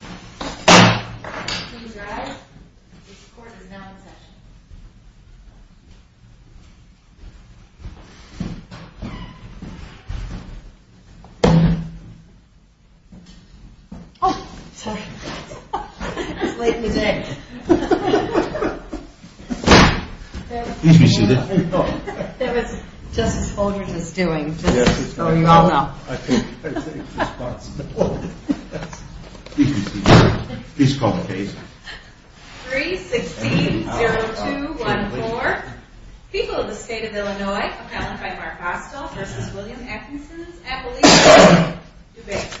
Please rise. This court is now in session. Oh! Sorry. It's late in the day. Please be seated. That was just as bold as it's doing. Oh, you all know. I think it's responsible. Please be seated. Please call the case. 3-16-0214 People of the State of Illinois Appellant by Mark Rostal v. William Atchison's Appellate Court Debate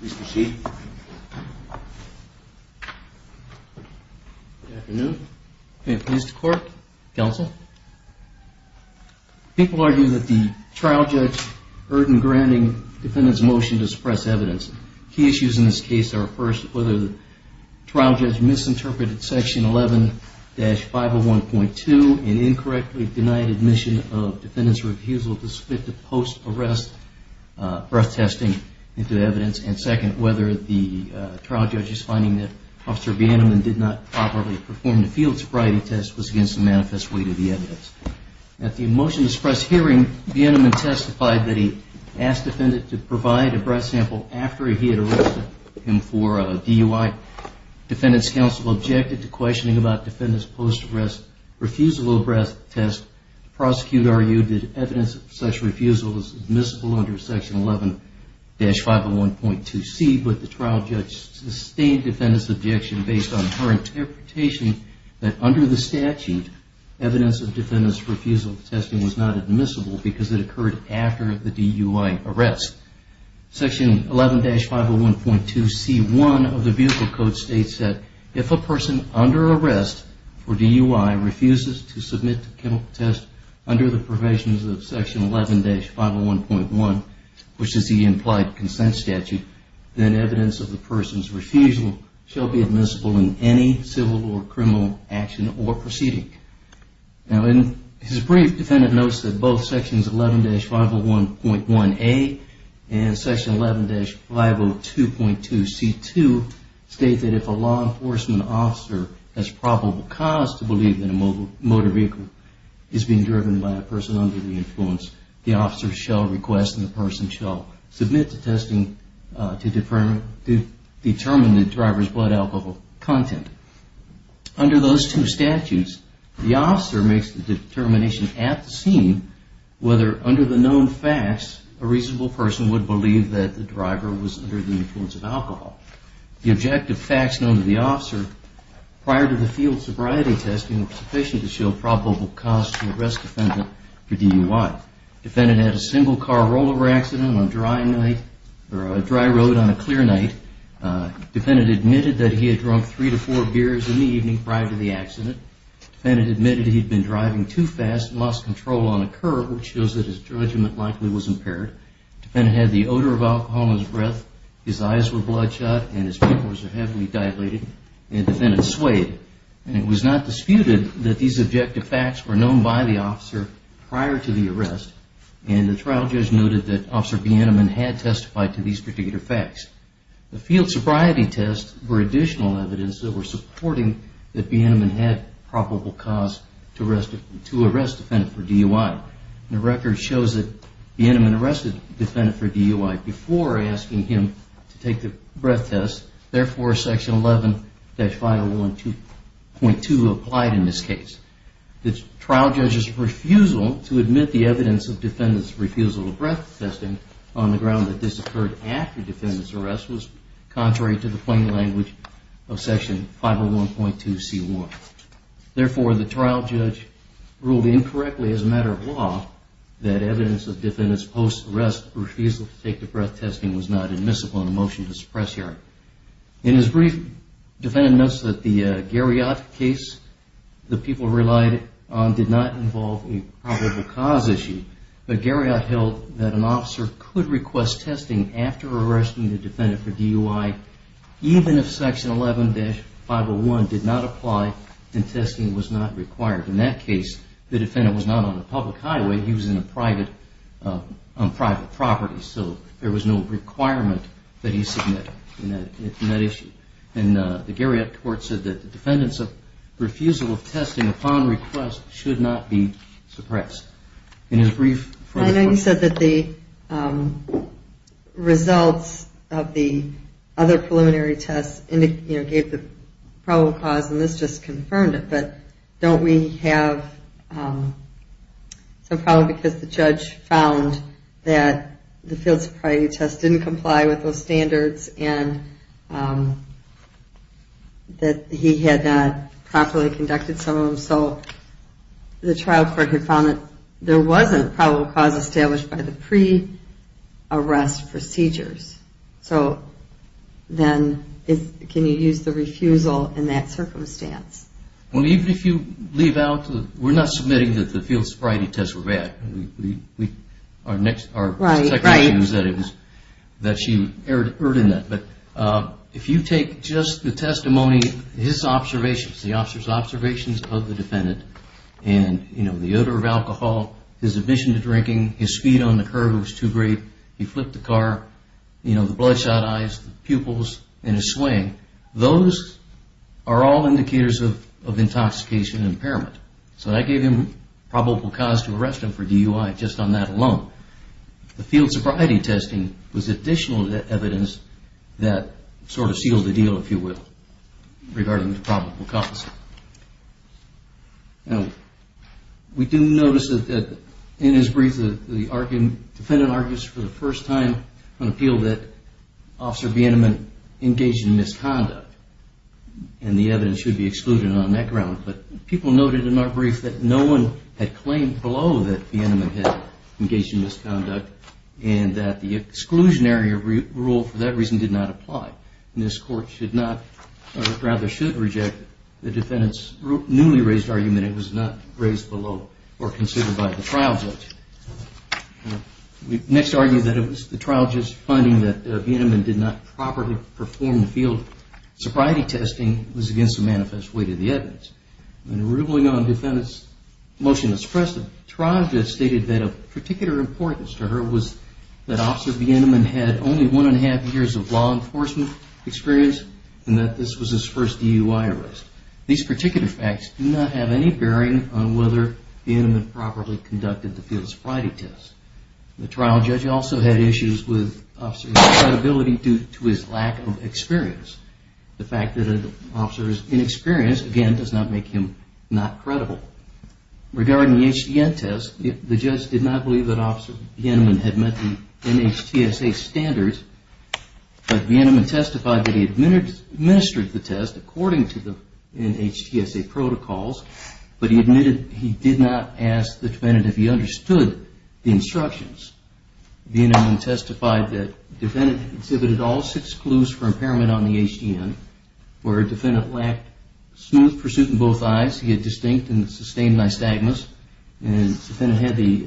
Please proceed. Good afternoon. May it please the court, counsel. People argue that the trial judge erred in granting the defendant's motion to suppress evidence. Key issues in this case are, first, whether the trial judge misinterpreted Section 11-501.2 and incorrectly denied admission of defendant's refusal to submit to post-arrest breath testing into the evidence, and second, whether the trial judge's finding that Officer Vanderman did not properly perform the field sobriety test was against the manifest weight of the evidence. At the motion to suppress hearing, Vanderman testified that he asked the defendant to provide a breath sample after he had arrested him for DUI. Defendant's counsel objected to questioning about defendant's post-arrest refusal of a breath test. The prosecutor argued that evidence of such refusal was admissible under Section 11-501.2c, but the trial judge sustained defendant's objection based on her interpretation that under the statute, evidence of defendant's refusal to test was not admissible because it occurred after the DUI arrest. Section 11-501.2c1 of the vehicle code states that if a person under arrest for DUI refuses to submit to chemical test under the provisions of Section 11-501.1, which is the implied consent statute, then evidence of the person's refusal shall be admissible in any civil or criminal action or proceeding. His brief, defendant notes that both Sections 11-501.1a and Section 11-502.2c2 state that if a law enforcement officer has probable cause to believe that a motor vehicle is being driven by a person under the influence, the officer shall request and the person shall submit to testing to determine the driver's blood alcohol content. Under those two statutes, the officer makes the determination at the scene whether under the known facts a reasonable person would believe that the driver was under the influence of alcohol. The objective facts known to the officer prior to the field sobriety testing were sufficient to show probable cause to arrest defendant for DUI. Defendant had a single car rollover accident on a dry road on a clear night. Defendant admitted that he had drunk three to four beers in the evening prior to the accident. Defendant admitted that he had been driving too fast and lost control on a curb, which shows that his judgment likely was impaired. Defendant had the odor of alcohol in his breath, his eyes were bloodshot, and his pupils were heavily dilated and defendant swayed. It was not disputed that these objective facts were known by the officer prior to the arrest and the trial judge noted that officer Bienemann had testified to these particular facts. The field sobriety tests were additional evidence that were supporting that Bienemann had probable cause to arrest defendant for DUI. The record shows that Bienemann arrested defendant for DUI before asking him to take the breath test. Therefore, section 11-501.2 applied in this case. The trial judge's refusal to admit the evidence of defendant's refusal of breath testing on the ground that this occurred after defendant's arrest was contrary to the plain language of section 501.2c1. Therefore, the trial judge ruled incorrectly as a matter of law that evidence of defendant's post-arrest refusal to take the breath testing was not admissible in the motion to suppress hearing. In his brief, defendant notes that the Garriott case the people relied on did not involve a probable cause issue but Garriott held that an officer could request testing after arresting the defendant for DUI even if section 11-501.2 did not apply and testing was not required. In that case, the defendant was not on a public highway he was on private property so there was no requirement that he submit in that issue. The Garriott court said that the defendant's refusal of testing upon request should not be suppressed. I know you said that the results of the other preliminary tests gave the probable cause and this just confirmed it but don't we have some problem because the judge found that the field sobriety test didn't comply with those standards and that he had not properly conducted some of them so the trial court found that there wasn't a probable cause established by the pre-arrest procedures so then can you use the refusal in that circumstance? Even if you leave out we're not submitting that the field sobriety tests were bad our second issue was that she erred in that but if you take just the testimony his observations, the officer's observations of the defendant and the odor of alcohol, his admission to drinking his speed on the curb was too great he flipped the car, the bloodshot eyes the pupils and his swaying those are all indicators of intoxication and impairment so that gave him probable cause to arrest him for DUI just on that alone the field sobriety testing was additional evidence that sort of sealed the deal if you will regarding the probable cause. We do notice that in his brief the defendant argues for the first time on appeal that officer Bienemann engaged in misconduct and the evidence should be excluded on that ground but people noted in our brief that no one had claimed below that Bienemann had engaged in misconduct and that the exclusionary rule for that reason did not apply and this court should not, or rather should reject the defendant's newly raised argument that it was not raised below or considered by the trial judge we next argue that it was the trial judge's finding that Bienemann did not properly perform the field sobriety testing was against the manifest weight of the evidence and ruling on the defendant's motion expressive trial judge stated that of particular importance to her was that officer Bienemann had only one and a half years of law enforcement experience and that this was his first DUI arrest these particular facts do not have any bearing on whether Bienemann properly conducted the field sobriety test the trial judge also had issues with officer's credibility due to his lack of experience the fact that an officer is inexperienced again does not make him not credible regarding the HDN test the judge did not believe that officer Bienemann had met the NHTSA standards but Bienemann testified that he administered the test according to the NHTSA protocols but he admitted he did not ask the defendant if he understood the instructions Bienemann testified that the defendant exhibited all six clues for impairment on the HDN where the defendant lacked smooth pursuit in both eyes he had distinct and sustained nystagmus and the defendant had the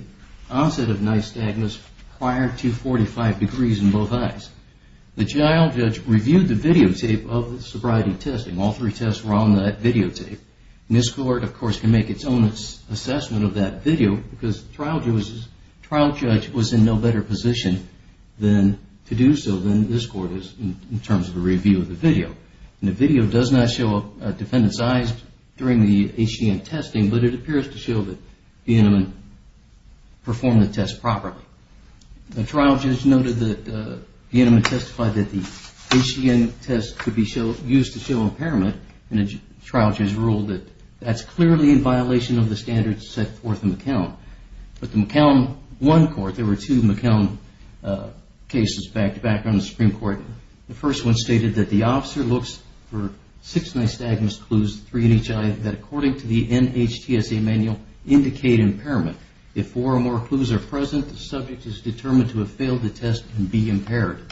onset of nystagmus prior to 45 degrees in both eyes the trial judge reviewed the videotape of the sobriety test and all three tests were on that videotape and this court of course can make its own assessment of that video because the trial judge was in no better position to do so than this court in terms of the review of the video and the video does not show a defendant's eyes during the HDN testing but it appears to show that Bienemann performed the test properly the trial judge noted that Bienemann testified that the HDN test could be used to show impairment and the trial judge ruled that that's clearly in violation of the standards set forth in McCown but the McCown 1 court there were two McCown cases back on the Supreme Court. The first one stated that the officer looks for six nystagmus clues, three in each eye that according to the NHTSA manual indicate impairment. If four or more clues are present the subject is determined to have failed the test and be impaired.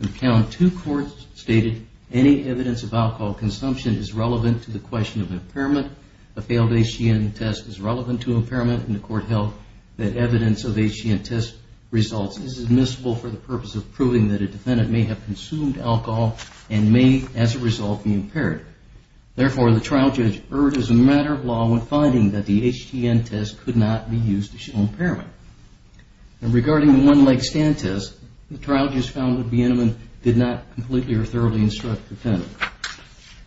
The McCown 2 court stated any evidence of alcohol consumption is relevant to the question of impairment a failed HDN test is relevant to impairment and the court held that evidence of HDN test results is admissible for the purpose of proving that a defendant may have consumed alcohol and may as a result be impaired. Therefore the trial judge erred and it was a matter of law when finding that the HDN test could not be used to show impairment. Regarding the one leg stand test the trial judge found that Bienemann did not completely or thoroughly instruct the defendant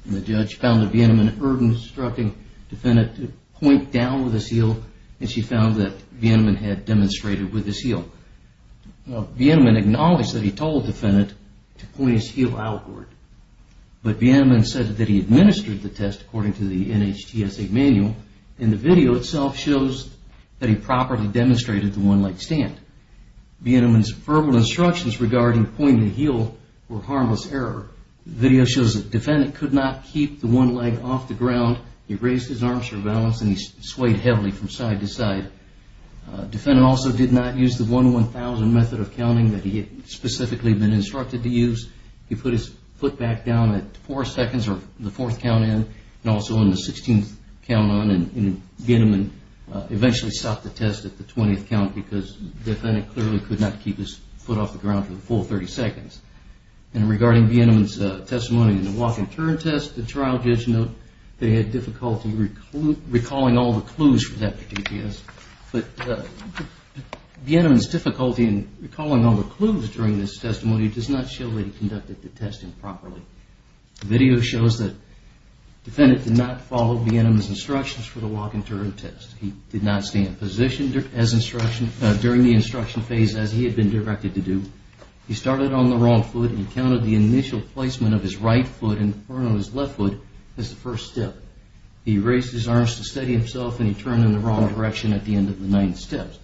and the judge found that Bienemann erred in instructing the defendant to point down with his heel and she found that Bienemann had demonstrated with his heel. Bienemann acknowledged that he told the defendant to point his heel outward but Bienemann said that he administered the test according to the NHTSA manual and the video itself shows that he properly demonstrated the one leg stand. Bienemann's verbal instructions regarding pointing the heel were harmless error. The video shows that the defendant could not keep the one leg off the ground, he raised his arms for balance and he swayed heavily from side to side. The defendant also did not use the 1-1000 method of counting that he had specifically been instructed to use. He put his foot back down at 4 seconds or the 4th count in and also in the 16th count on and Bienemann eventually stopped the test at the 20th count because the defendant clearly could not keep his foot off the ground for the full 30 seconds. And regarding Bienemann's testimony in the walking turn test the trial judge noted that he had difficulty recalling all the clues for that particular test. But Bienemann's difficulty in recalling all the clues during this testimony does not show that he conducted the test improperly. The video shows that the defendant did not follow Bienemann's instructions for the walking turn test. He did not stand positioned during the instruction phase as he had been directed to do. He started on the wrong foot and counted the initial placement of his right foot and the front of his left foot as the first step. He raised his arms to steady himself and he turned in the wrong direction at the end of the 9 steps.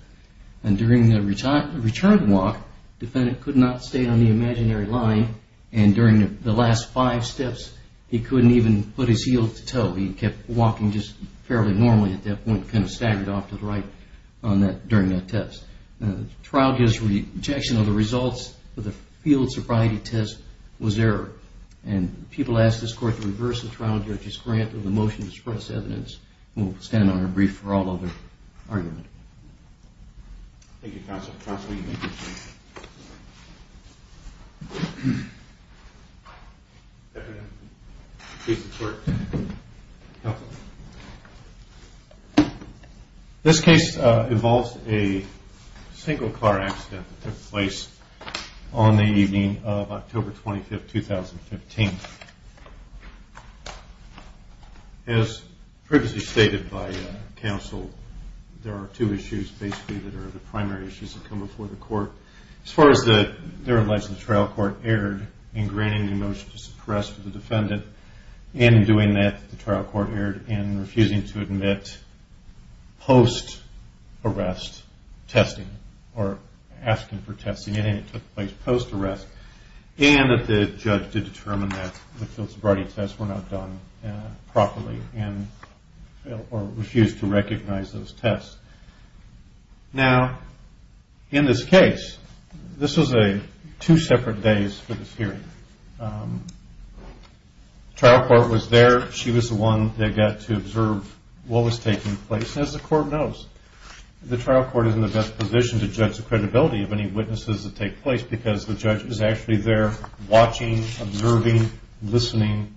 And during the return walk the defendant could not stay on the imaginary line and during the last 5 steps he couldn't even put his heel to toe. He kept walking just fairly normally at that point, kind of staggered off to the right during that test. The trial judge's rejection of the results of the field sobriety test was error. And people asked this court to reverse the trial judge's grant of the motion to express evidence. We'll stand on our brief for all other arguments. Thank you counsel. This case involves a single car accident that took place on the evening of October 25, 2015. As previously stated by counsel there are two issues basically that are the primary issues that come before the court. As far as the trial court erred in granting the motion to suppress the defendant and in doing that the trial court erred in refusing to admit post-arrest testing or asking for testing and it took place post-arrest and the judge did determine that the field sobriety tests were not done properly or refused to recognize those tests. Now in this case, this was a two separate days for this hearing. The trial court was there. She was the one that got to observe what was taking place. As the court knows the trial court is in the best position to judge the trial court is actually there watching, observing, listening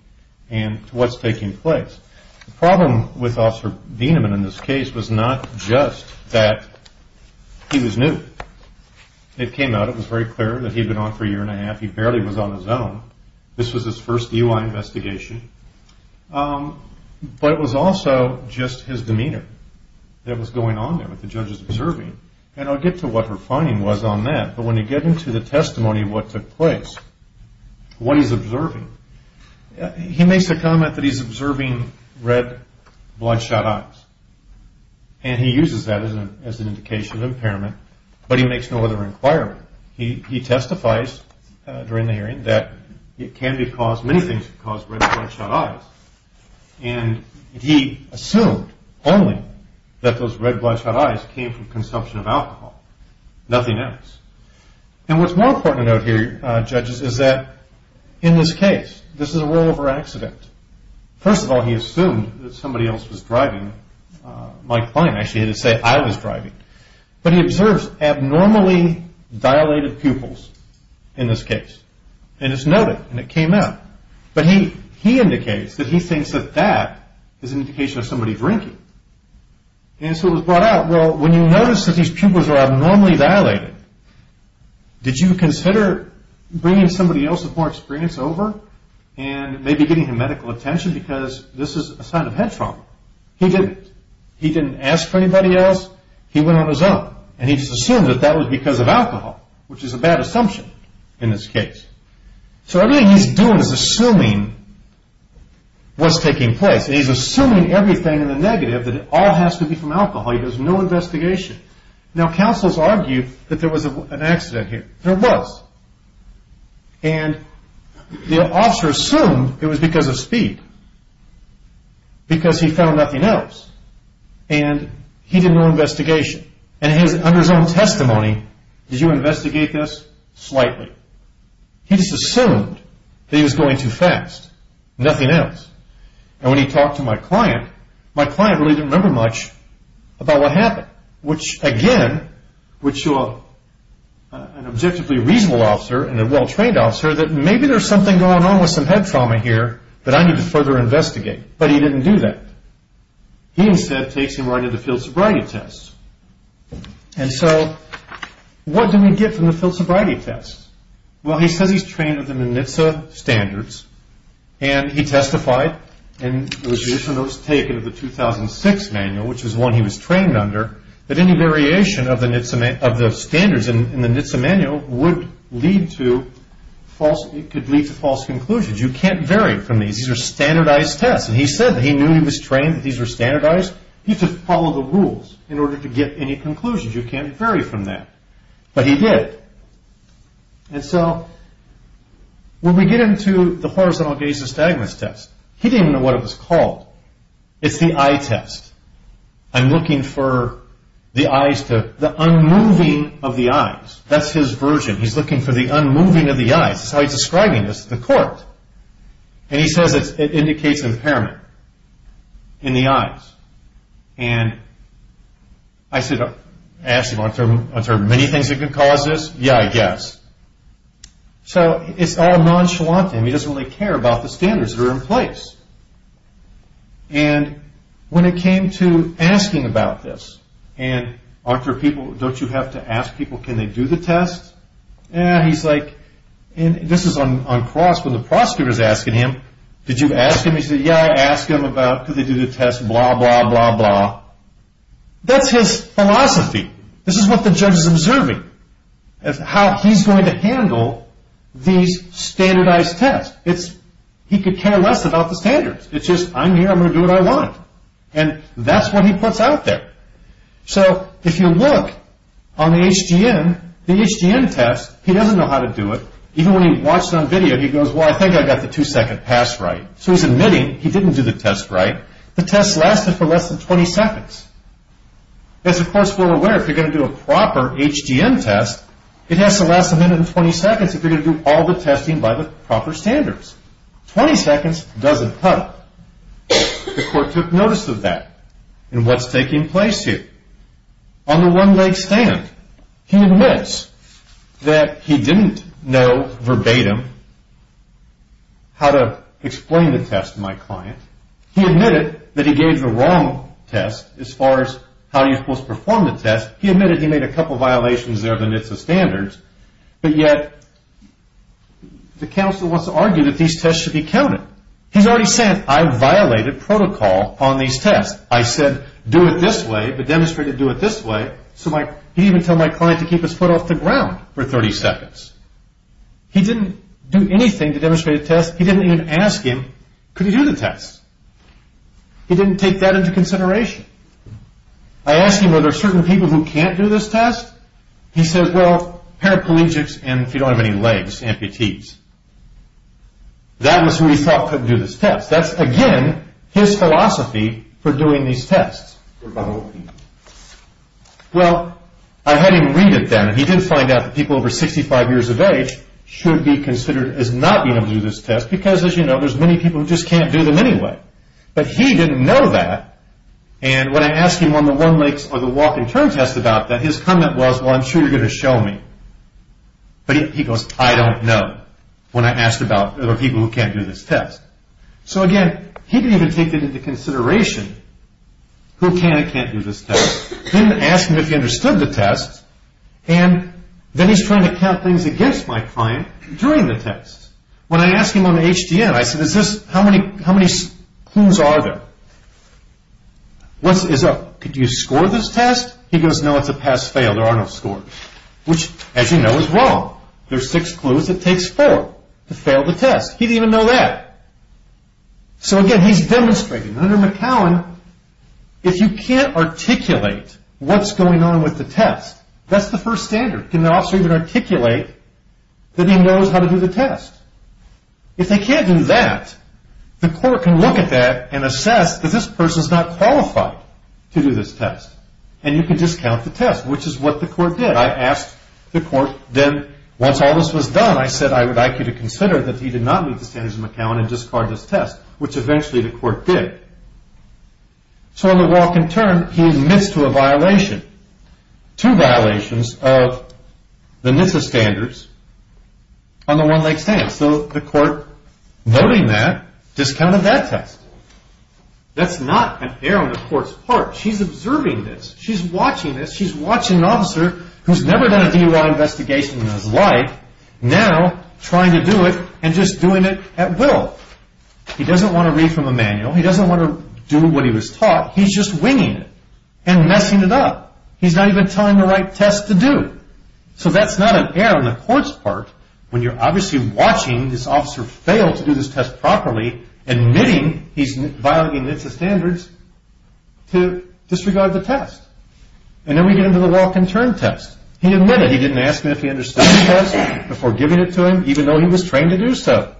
and to what's taking place. The problem with Officer Dienemann in this case was not just that he was new. It came out, it was very clear that he had been on for a year and a half. He barely was on his own. This was his first DUI investigation. But it was also just his demeanor that was going on there with the judges observing and I'll get to what her finding was on that. But when you get into the testimony of what took place, what he's observing, he makes the comment that he's observing red bloodshot eyes. And he uses that as an indication of impairment but he makes no other inquiry. He testifies during the hearing that it can be caused, many things can cause red bloodshot eyes. And he assumed only that those red bloodshot eyes came from consumption of alcohol. Nothing else. And what's more important to note here judges is that in this case, this is a rollover accident. First of all he assumed that somebody else was driving. Mike Klein actually had to say I was driving. But he observes abnormally dilated pupils in this case. And it's noted and it came out. But he indicates that he thinks that that is an indication of somebody drinking. And so it was brought out. Well, when you notice that these pupils are abnormally dilated, did you consider bringing somebody else with more experience over and maybe getting him medical attention because this is a sign of head trauma. He didn't. He didn't ask for anybody else. He went on his own. And he just assumed that that was because of alcohol, which is a bad assumption in this case. So everything he's doing is assuming what's taking place. And he's assuming everything in the negative that it all has to be from alcohol. He does no investigation. Now, counsels argue that there was an accident here. There was. And the officer assumed it was because of speed. Because he found nothing else. And he did no investigation. And under his own testimony, did you investigate this? Slightly. He just assumed that he was going too fast. Nothing else. And when he talked to my client, my client really didn't remember much about what happened, which again would show an objectively reasonable officer and a well-trained officer that maybe there's something going on with some head trauma here that I need to further investigate. But he didn't do that. He instead takes him right into field sobriety tests. And so what did we get from the field sobriety tests? We got the NITSA standards. And he testified, and it was taken of the 2006 manual, which is one he was trained under, that any variation of the standards in the NITSA manual would lead to false conclusions. You can't vary from these. These are standardized tests. And he said that he knew he was trained that these were standardized. He just followed the rules in order to get any conclusions. You can't vary from that. But he did. And so when we get into the horizontal gaze astigmatism test, he didn't even know what it was called. It's the eye test. I'm looking for the eyes to, the unmoving of the eyes. That's his version. He's looking for the unmoving of the eyes. That's how he's describing this to the court. And he says it indicates impairment in the eyes. And I said, I asked him, are there many things that can cause this? Yeah, I guess. So it's all nonchalant to him. He doesn't really care about the standards that are in place. And when it came to asking about this, and aren't there people, don't you have to ask people, can they do the test? He's like, and this is on cross when the prosecutor is asking him, did you ask him? He said, yeah, I asked him about, could they do the test, blah, blah, blah, blah. That's his philosophy. This is what the judge is observing. How he's going to handle these standardized tests. He could care less about the standards. It's just, I'm here, I'm going to do what I want. And that's what he puts out there. So if you look on the HGM, the HGM test, he doesn't know how to do it. Even when he watched it on video, he goes, well, I think I got the two-second pass right. So he's admitting he didn't do the test right. The test lasted for less than 20 seconds. As the court's more aware, if you're going to do a proper HGM test, it has to last less than 20 seconds if you're going to do all the testing by the proper standards. 20 seconds doesn't cut it. The court took notice of that. And what's taking place here? On the one-leg stand, he admits that he didn't know, verbatim, how to explain the test to my client. He admitted that he gave the wrong test as far as how you're supposed to perform the test. He admitted he made a couple violations there of the standards. But yet, the counsel wants to argue that these tests should be counted. He's already said, I violated protocol on these tests. I said, do it this way, but demonstrated to do it this way. So he didn't even tell my client to keep his foot off the ground for 30 seconds. He didn't do anything to demonstrate the test. He didn't even ask him, could he do the test? He didn't take that into consideration. I asked him, are there certain people who can't do this test? He said, well, paraplegics and if you don't have any legs, amputees. That was who he thought couldn't do this test. That's, again, his philosophy for doing these tests. Well, I had him read it then and he did find out that people over 65 years of age should be considered as not being able to do this test because, as you know, there's many people who just can't do them anyway. But he didn't know that. And when I asked him on the one legs or the walk and turn test about that, his comment was, well, I'm sure you're going to show me. But he goes, I don't know when I asked about people who can't do this test. So, again, he didn't even take that into consideration. Who can and can't do this test? I didn't ask him if he understood the test. And then he's trying to count things against my client during the test. When I asked him on the HDN, I said, how many clues are there? Could you score this test? He goes, no, it's a pass fail. There are no scores. Which, as you know, is wrong. There are six clues. It takes four to fail the test. He didn't even know that. So, again, he's demonstrating. Under McCowan, if you can't articulate what's going on with the test, that's the first standard. Can the officer even articulate that he knows how to do the test? If they can't do that, the court can look at that and assess that this person is not qualified to do this test. And you can just count the test, which is what the court did. I asked the court, then, once all this was done, I said, I would like you to consider that he did not meet the standards of McCowan and discard this test, which eventually the court did. So on the walk and turn, he admits to a violation, two violations of the NSSA standards on the One Lake stand. So the court, noting that, discounted that test. That's not an error on the court's part. She's observing this. She's watching this. She's watching an officer who's never done a DUI investigation in his life, now trying to do it and just doing it at will. He doesn't want to read from a manual. He doesn't want to do what he was taught. He's just winging it and messing it up. He's not even telling the right test to do. So that's not an error on the court's part when you're obviously watching this officer fail to do this test properly, admitting he's violating NSSA standards to disregard the test. And then we get into the walk and turn test. He admitted he didn't ask me if he understood the test before giving it to him, even though he was trained to do so.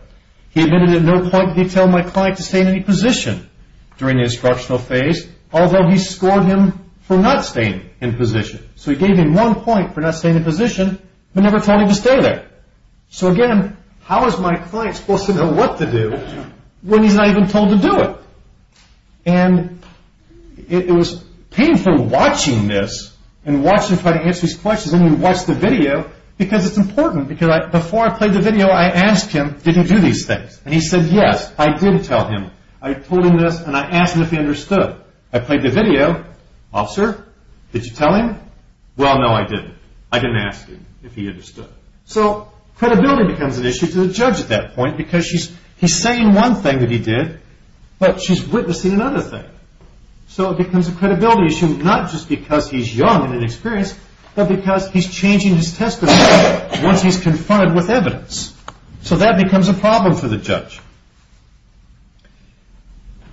He admitted at no point did he tell my client to stay in any position during the instructional phase, although he scored him for not staying in position. So he gave him one point for not staying in position, but never told him to stay there. So again, how is my client supposed to know what to do when he's not even told to do it? And it was painful watching this and watching him try to answer these questions when you watch the video because it's important. Before I played the video, I asked him, did he do these things? And he said, yes, I did tell him. I told him this and I asked him if he understood. I played the video. Officer, did you tell him? Well, no, I didn't. I didn't ask him if he understood. So credibility becomes an issue to the judge at that point because he's saying one thing that he did, but she's witnessing another thing. So it becomes a credibility issue, not just because he's young and inexperienced, but because he's changing his testimony once he's confronted with evidence. So that becomes a problem for the judge.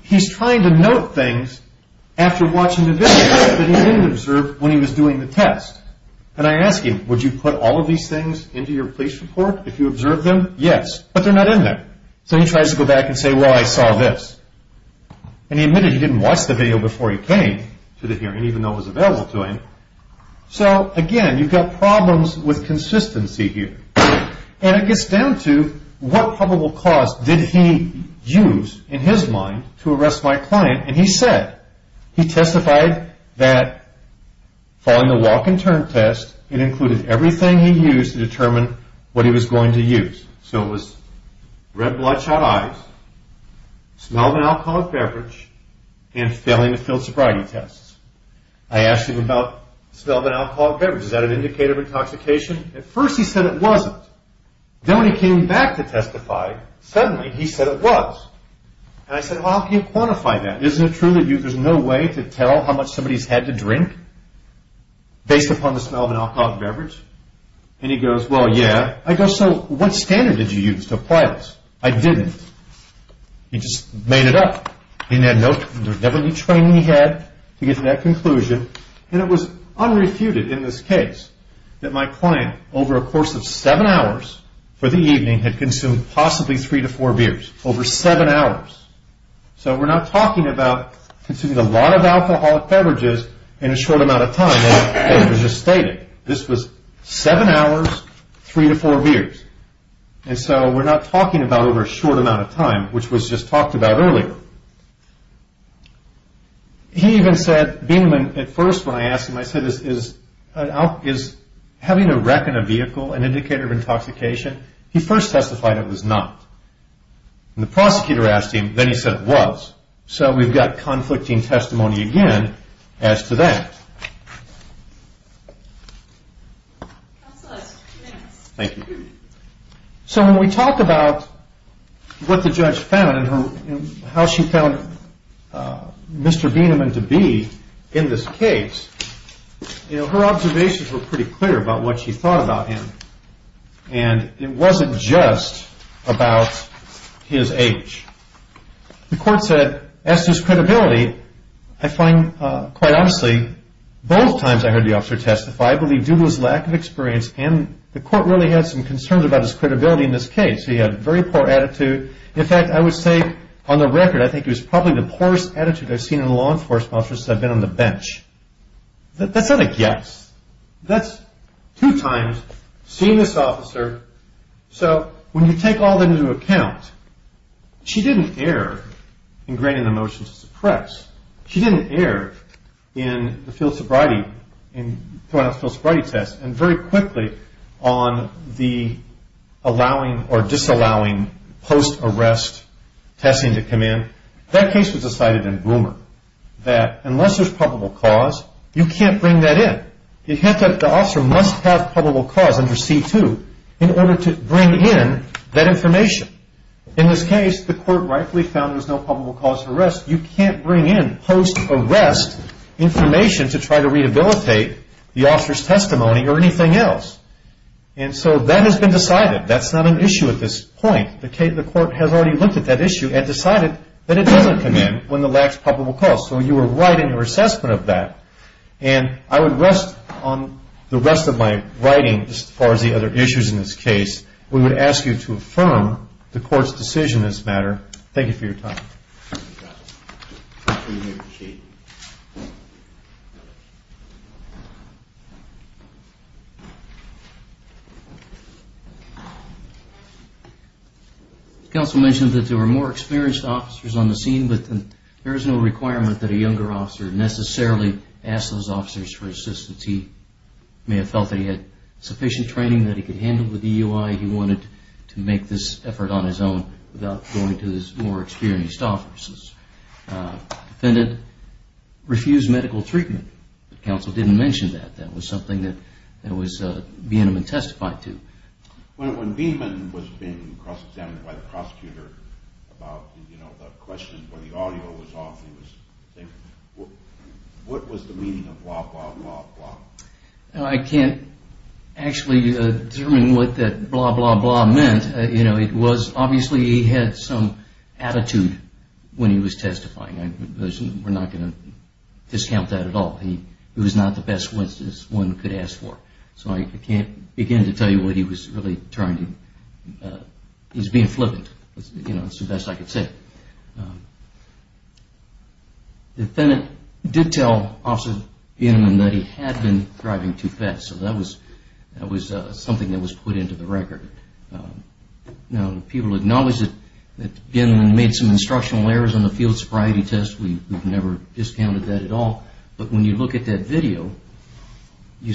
He's trying to note things after watching the video that he didn't observe when he was doing the test. And I ask him, would you put all of these things into your police report if you observed them? Yes. But they're not in there. So he tries to go back and say, well, I saw this. And he admitted he didn't watch the video before he came to the hearing even though it was available to him. So, again, you've got problems with consistency here. And it gets down to what probable cause did he use, in his mind, to arrest my client? And he said he testified that following the walk and turn test, it included everything he used to determine what he was going to use. So it was red bloodshot eyes, smell of an alcoholic beverage, and failing to fill sobriety tests. I asked him about the smell of an alcoholic beverage. Is that an indicator of intoxication? At first he said it wasn't. Then when he came back to testify, suddenly he said it was. And I said, well, how can you quantify that? Isn't it true that there's no way to tell how much somebody's had to drink based upon the smell of an alcoholic beverage? And he goes, well, yeah. I go, so what standard did you use to apply this? I didn't. He just made it up. There was never any training he had to get to that conclusion. And it was unrefuted in this case that my client, over a course of seven hours for the evening, had consumed possibly three to four beers, over seven hours. So we're not talking about consuming a lot of alcoholic beverages in a short amount of time. That was just stated. This was seven hours, three to four beers. And so we're not talking about over a short amount of time, which was just talked about earlier. He even said, being at first when I asked him, I said, is having a wreck in a vehicle an indicator of intoxication? He first testified it was not. And the prosecutor asked him, then he said it was. So we've got conflicting testimony again as to that. Thank you. So when we talk about what the judge found and how she found Mr. Bieneman to be in this case, her observations were pretty clear about what she thought about him. And it wasn't just about his age. The court said, as to his credibility, I find quite honestly both times I heard the officer testify, I believe due to his lack of experience and the court really had some concerns about his credibility in this case. He had a very poor attitude. In fact, I would say on the record, I think he was probably the poorest attitude I've seen in a law enforcement officer since I've been on the bench. That's not a guess. That's two times seeing this officer. So when you take all that into account, she didn't err in granting the motion to suppress. She didn't err in the field sobriety test and very quickly on the allowing or disallowing post-arrest testing to come in. That case was decided in Boomer that unless there's probable cause, you can't bring that in. The officer must have probable cause under C2 in order to bring in that information. In this case, the court rightfully found there's no probable cause for arrest. You can't bring in post-arrest information to try to rehabilitate the officer's testimony or anything else. And so that has been decided. That's not an issue at this point. The court has already looked at that issue and decided that it doesn't come in when the lax probable cause. So you were right in your assessment of that. And I would rest on the rest of my writing as far as the other issues in this case. We would ask you to affirm the court's decision in this matter. Thank you for your time. Counsel mentioned that there were more experienced officers on the scene but there is no requirement that a younger officer necessarily ask those officers for assistance. He may have felt that he had sufficient training that he could handle with EUI. He wanted to make this effort on his own without going to these more experienced officers. Defendant refused medical treatment. Counsel didn't mention that. That was something that was being testified to. When Beeman was being cross-examined by the prosecutor about the question where the audio was off, what was the meaning of blah, blah, blah? I can't actually determine what that blah, blah, blah meant. Obviously he had some attitude when he was testifying. We're not going to discount that at all. It was not the best one could ask for. I can't begin to tell you what he was really trying to... He was being flippant. That's the best I could say. Defendant did tell Officer Beeman that he had been driving too fast. That was something that was put into the record. People acknowledge that Beeman made some instructional errors on the field sobriety test. We've never discounted that at all. But when you look at that video, you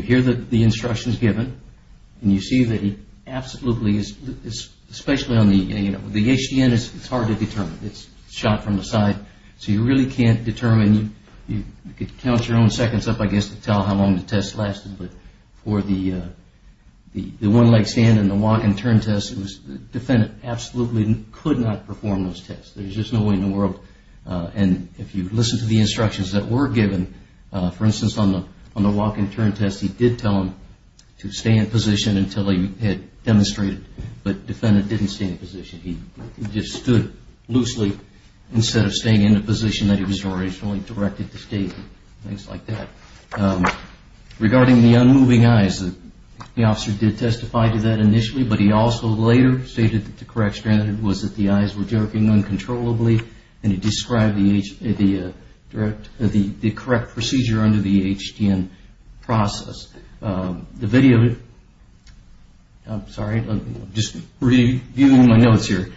hear the instructions given and you see that he absolutely... The HDN is hard to determine. It's shot from the side. You really can't determine. You could count your own seconds up to tell how long the test lasted. For the one-leg stand and the walk-and-turn test, the defendant absolutely could not perform those tests. There's just no way in the world. If you listen to the instructions that were given, for instance on the walk-and-turn test, he did tell him to stay in position until he had demonstrated. But the defendant didn't stay in position. He just stood loosely instead of staying in the position that he was originally directed to stay in. Things like that. Regarding the unmoving eyes, the officer did testify to that initially, but he also later stated that the correct standard was that the eyes were jerking uncontrollably and he described the correct procedure under the HDN process. The video... I'm sorry. I'm just reviewing my notes here.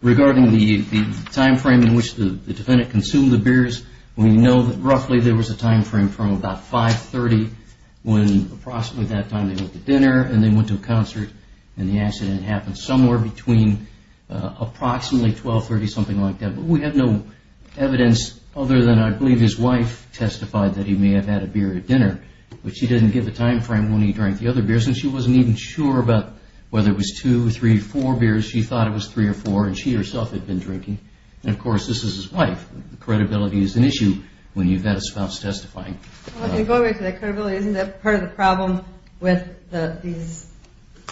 Regarding the timeframe in which the defendant consumed the beers, we know that roughly there was a timeframe from about 5.30 when approximately that time they went to dinner and they went to a concert and the accident happened somewhere between approximately 12.30, something like that. But we have no evidence other than, I believe, his wife testified that he may have had a beer at dinner, but she didn't give a timeframe when he drank the other beers and she wasn't even sure about whether it was 2, 3, 4 beers. She thought it was 3 or 4 and she herself had been drinking. And, of course, this is his wife. Credibility is an issue when you've got a spouse testifying. Going back to that credibility, isn't that part of the problem with these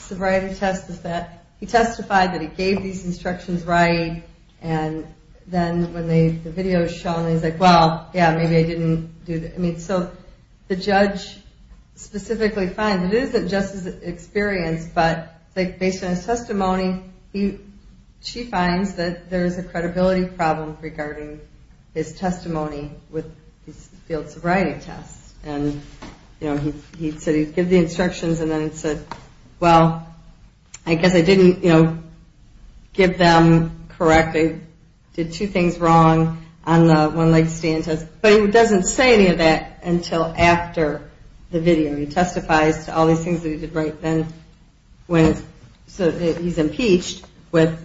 sobriety tests is that he testified that he gave these instructions right and then when the video was shown he was like, well, yeah, maybe I didn't do... So the judge specifically finds that it isn't just his experience, but based on his testimony, she finds that there's a credibility problem regarding his testimony with these field sobriety tests. And he said he'd give the instructions and then he said, well, I guess I didn't give them correct. I did two things wrong on the one leg stand test. But he doesn't say any of that until after the video. He testifies to all these things that he did right then so that he's impeached with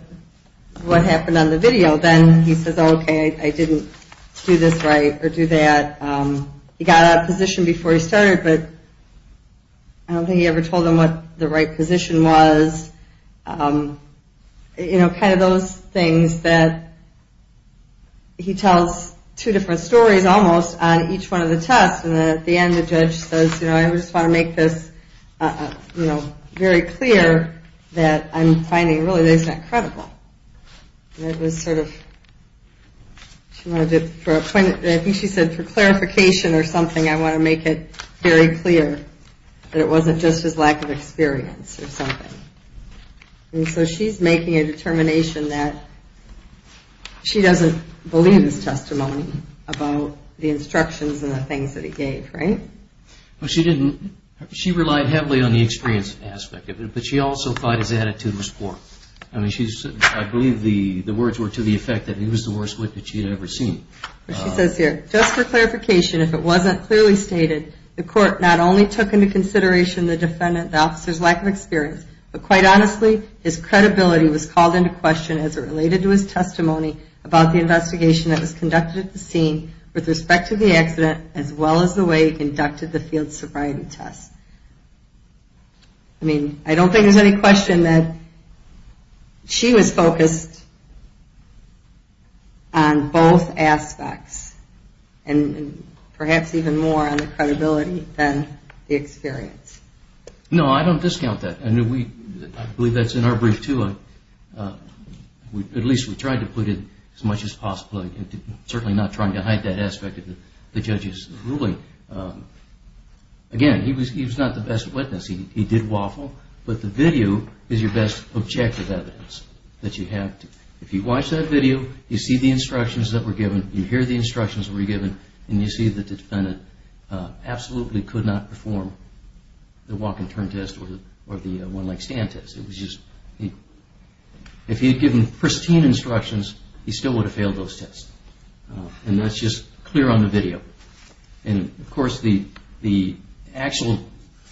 what happened on the video. Then he says, okay, I didn't do this right or do that. He got out of position before he started, but I don't think he ever told them what the right position was. You know, kind of those things that he tells two different stories almost on each one of the tests and then at the end the judge says, you know, I just want to make this very clear that I'm finding really that he's not credible. I think she said for clarification or something, I want to make it very clear that it wasn't just his lack of experience or something. And so she's making a determination that she doesn't believe his testimony about the instructions and the things that he gave. Right? She relied heavily on the experience aspect of it, but she also thought his attitude was poor. I believe the words were to the effect that he was the worst witness she had ever seen. She says here, just for clarification, if it wasn't clearly stated, the court not only took into consideration the defendant, the officer's lack of experience, but quite honestly, his credibility was called into question as it related to his testimony about the investigation that was conducted at the scene with respect to the accident as well as the way he conducted the field sobriety test. I mean, I don't think there's any question that she was focused on both aspects and perhaps even more on the credibility than the experience. No, I don't discount that. I believe that's in our brief too. At least we tried to put in as much as possible, certainly not trying to hide that aspect of the judge's ruling. Again, he was not the best witness. He did waffle, but the video is your best objective evidence that you have. If you watch that video, you see the instructions that were given, you hear the instructions that were given, and you see that the defendant absolutely could not perform the walk and turn test or the one leg stand test. If he had given pristine instructions, he still would have failed those tests. And that's just clear on the video. And of course, the actual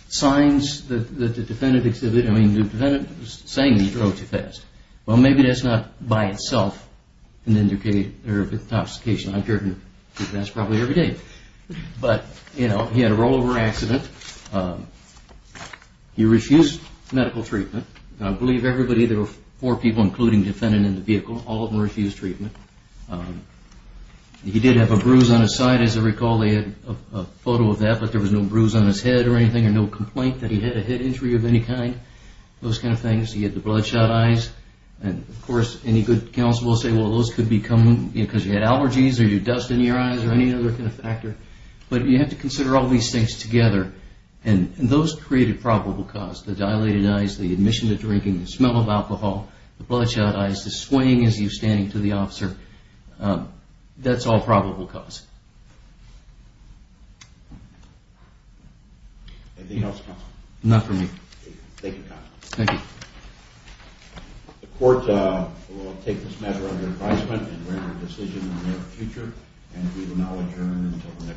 signs that the defendant was saying that he drove too fast. Well, maybe that's not by itself an intoxication. I've heard that probably every day. But he had a rollover accident. He refused medical treatment. I believe there were four people, including the defendant in the vehicle. All of them refused treatment. He did have a bruise on his side, as I recall. They had a photo of that, but there was no bruise on his head or anything He did not point that he had a head injury of any kind. Those kind of things. He had the bloodshot eyes. And of course, any good counsel will say, well, those could be because you had allergies or you had dust in your eyes or any other kind of factor. But you have to consider all these things together. And those create a probable cause. The dilated eyes, the admission to drinking, the smell of alcohol, the bloodshot eyes, the swaying as you're standing to the officer. That's all probable cause. Thank you, counsel. The court will take this matter under advisement and render a decision in the near future. And we will now adjourn until the next court hearing.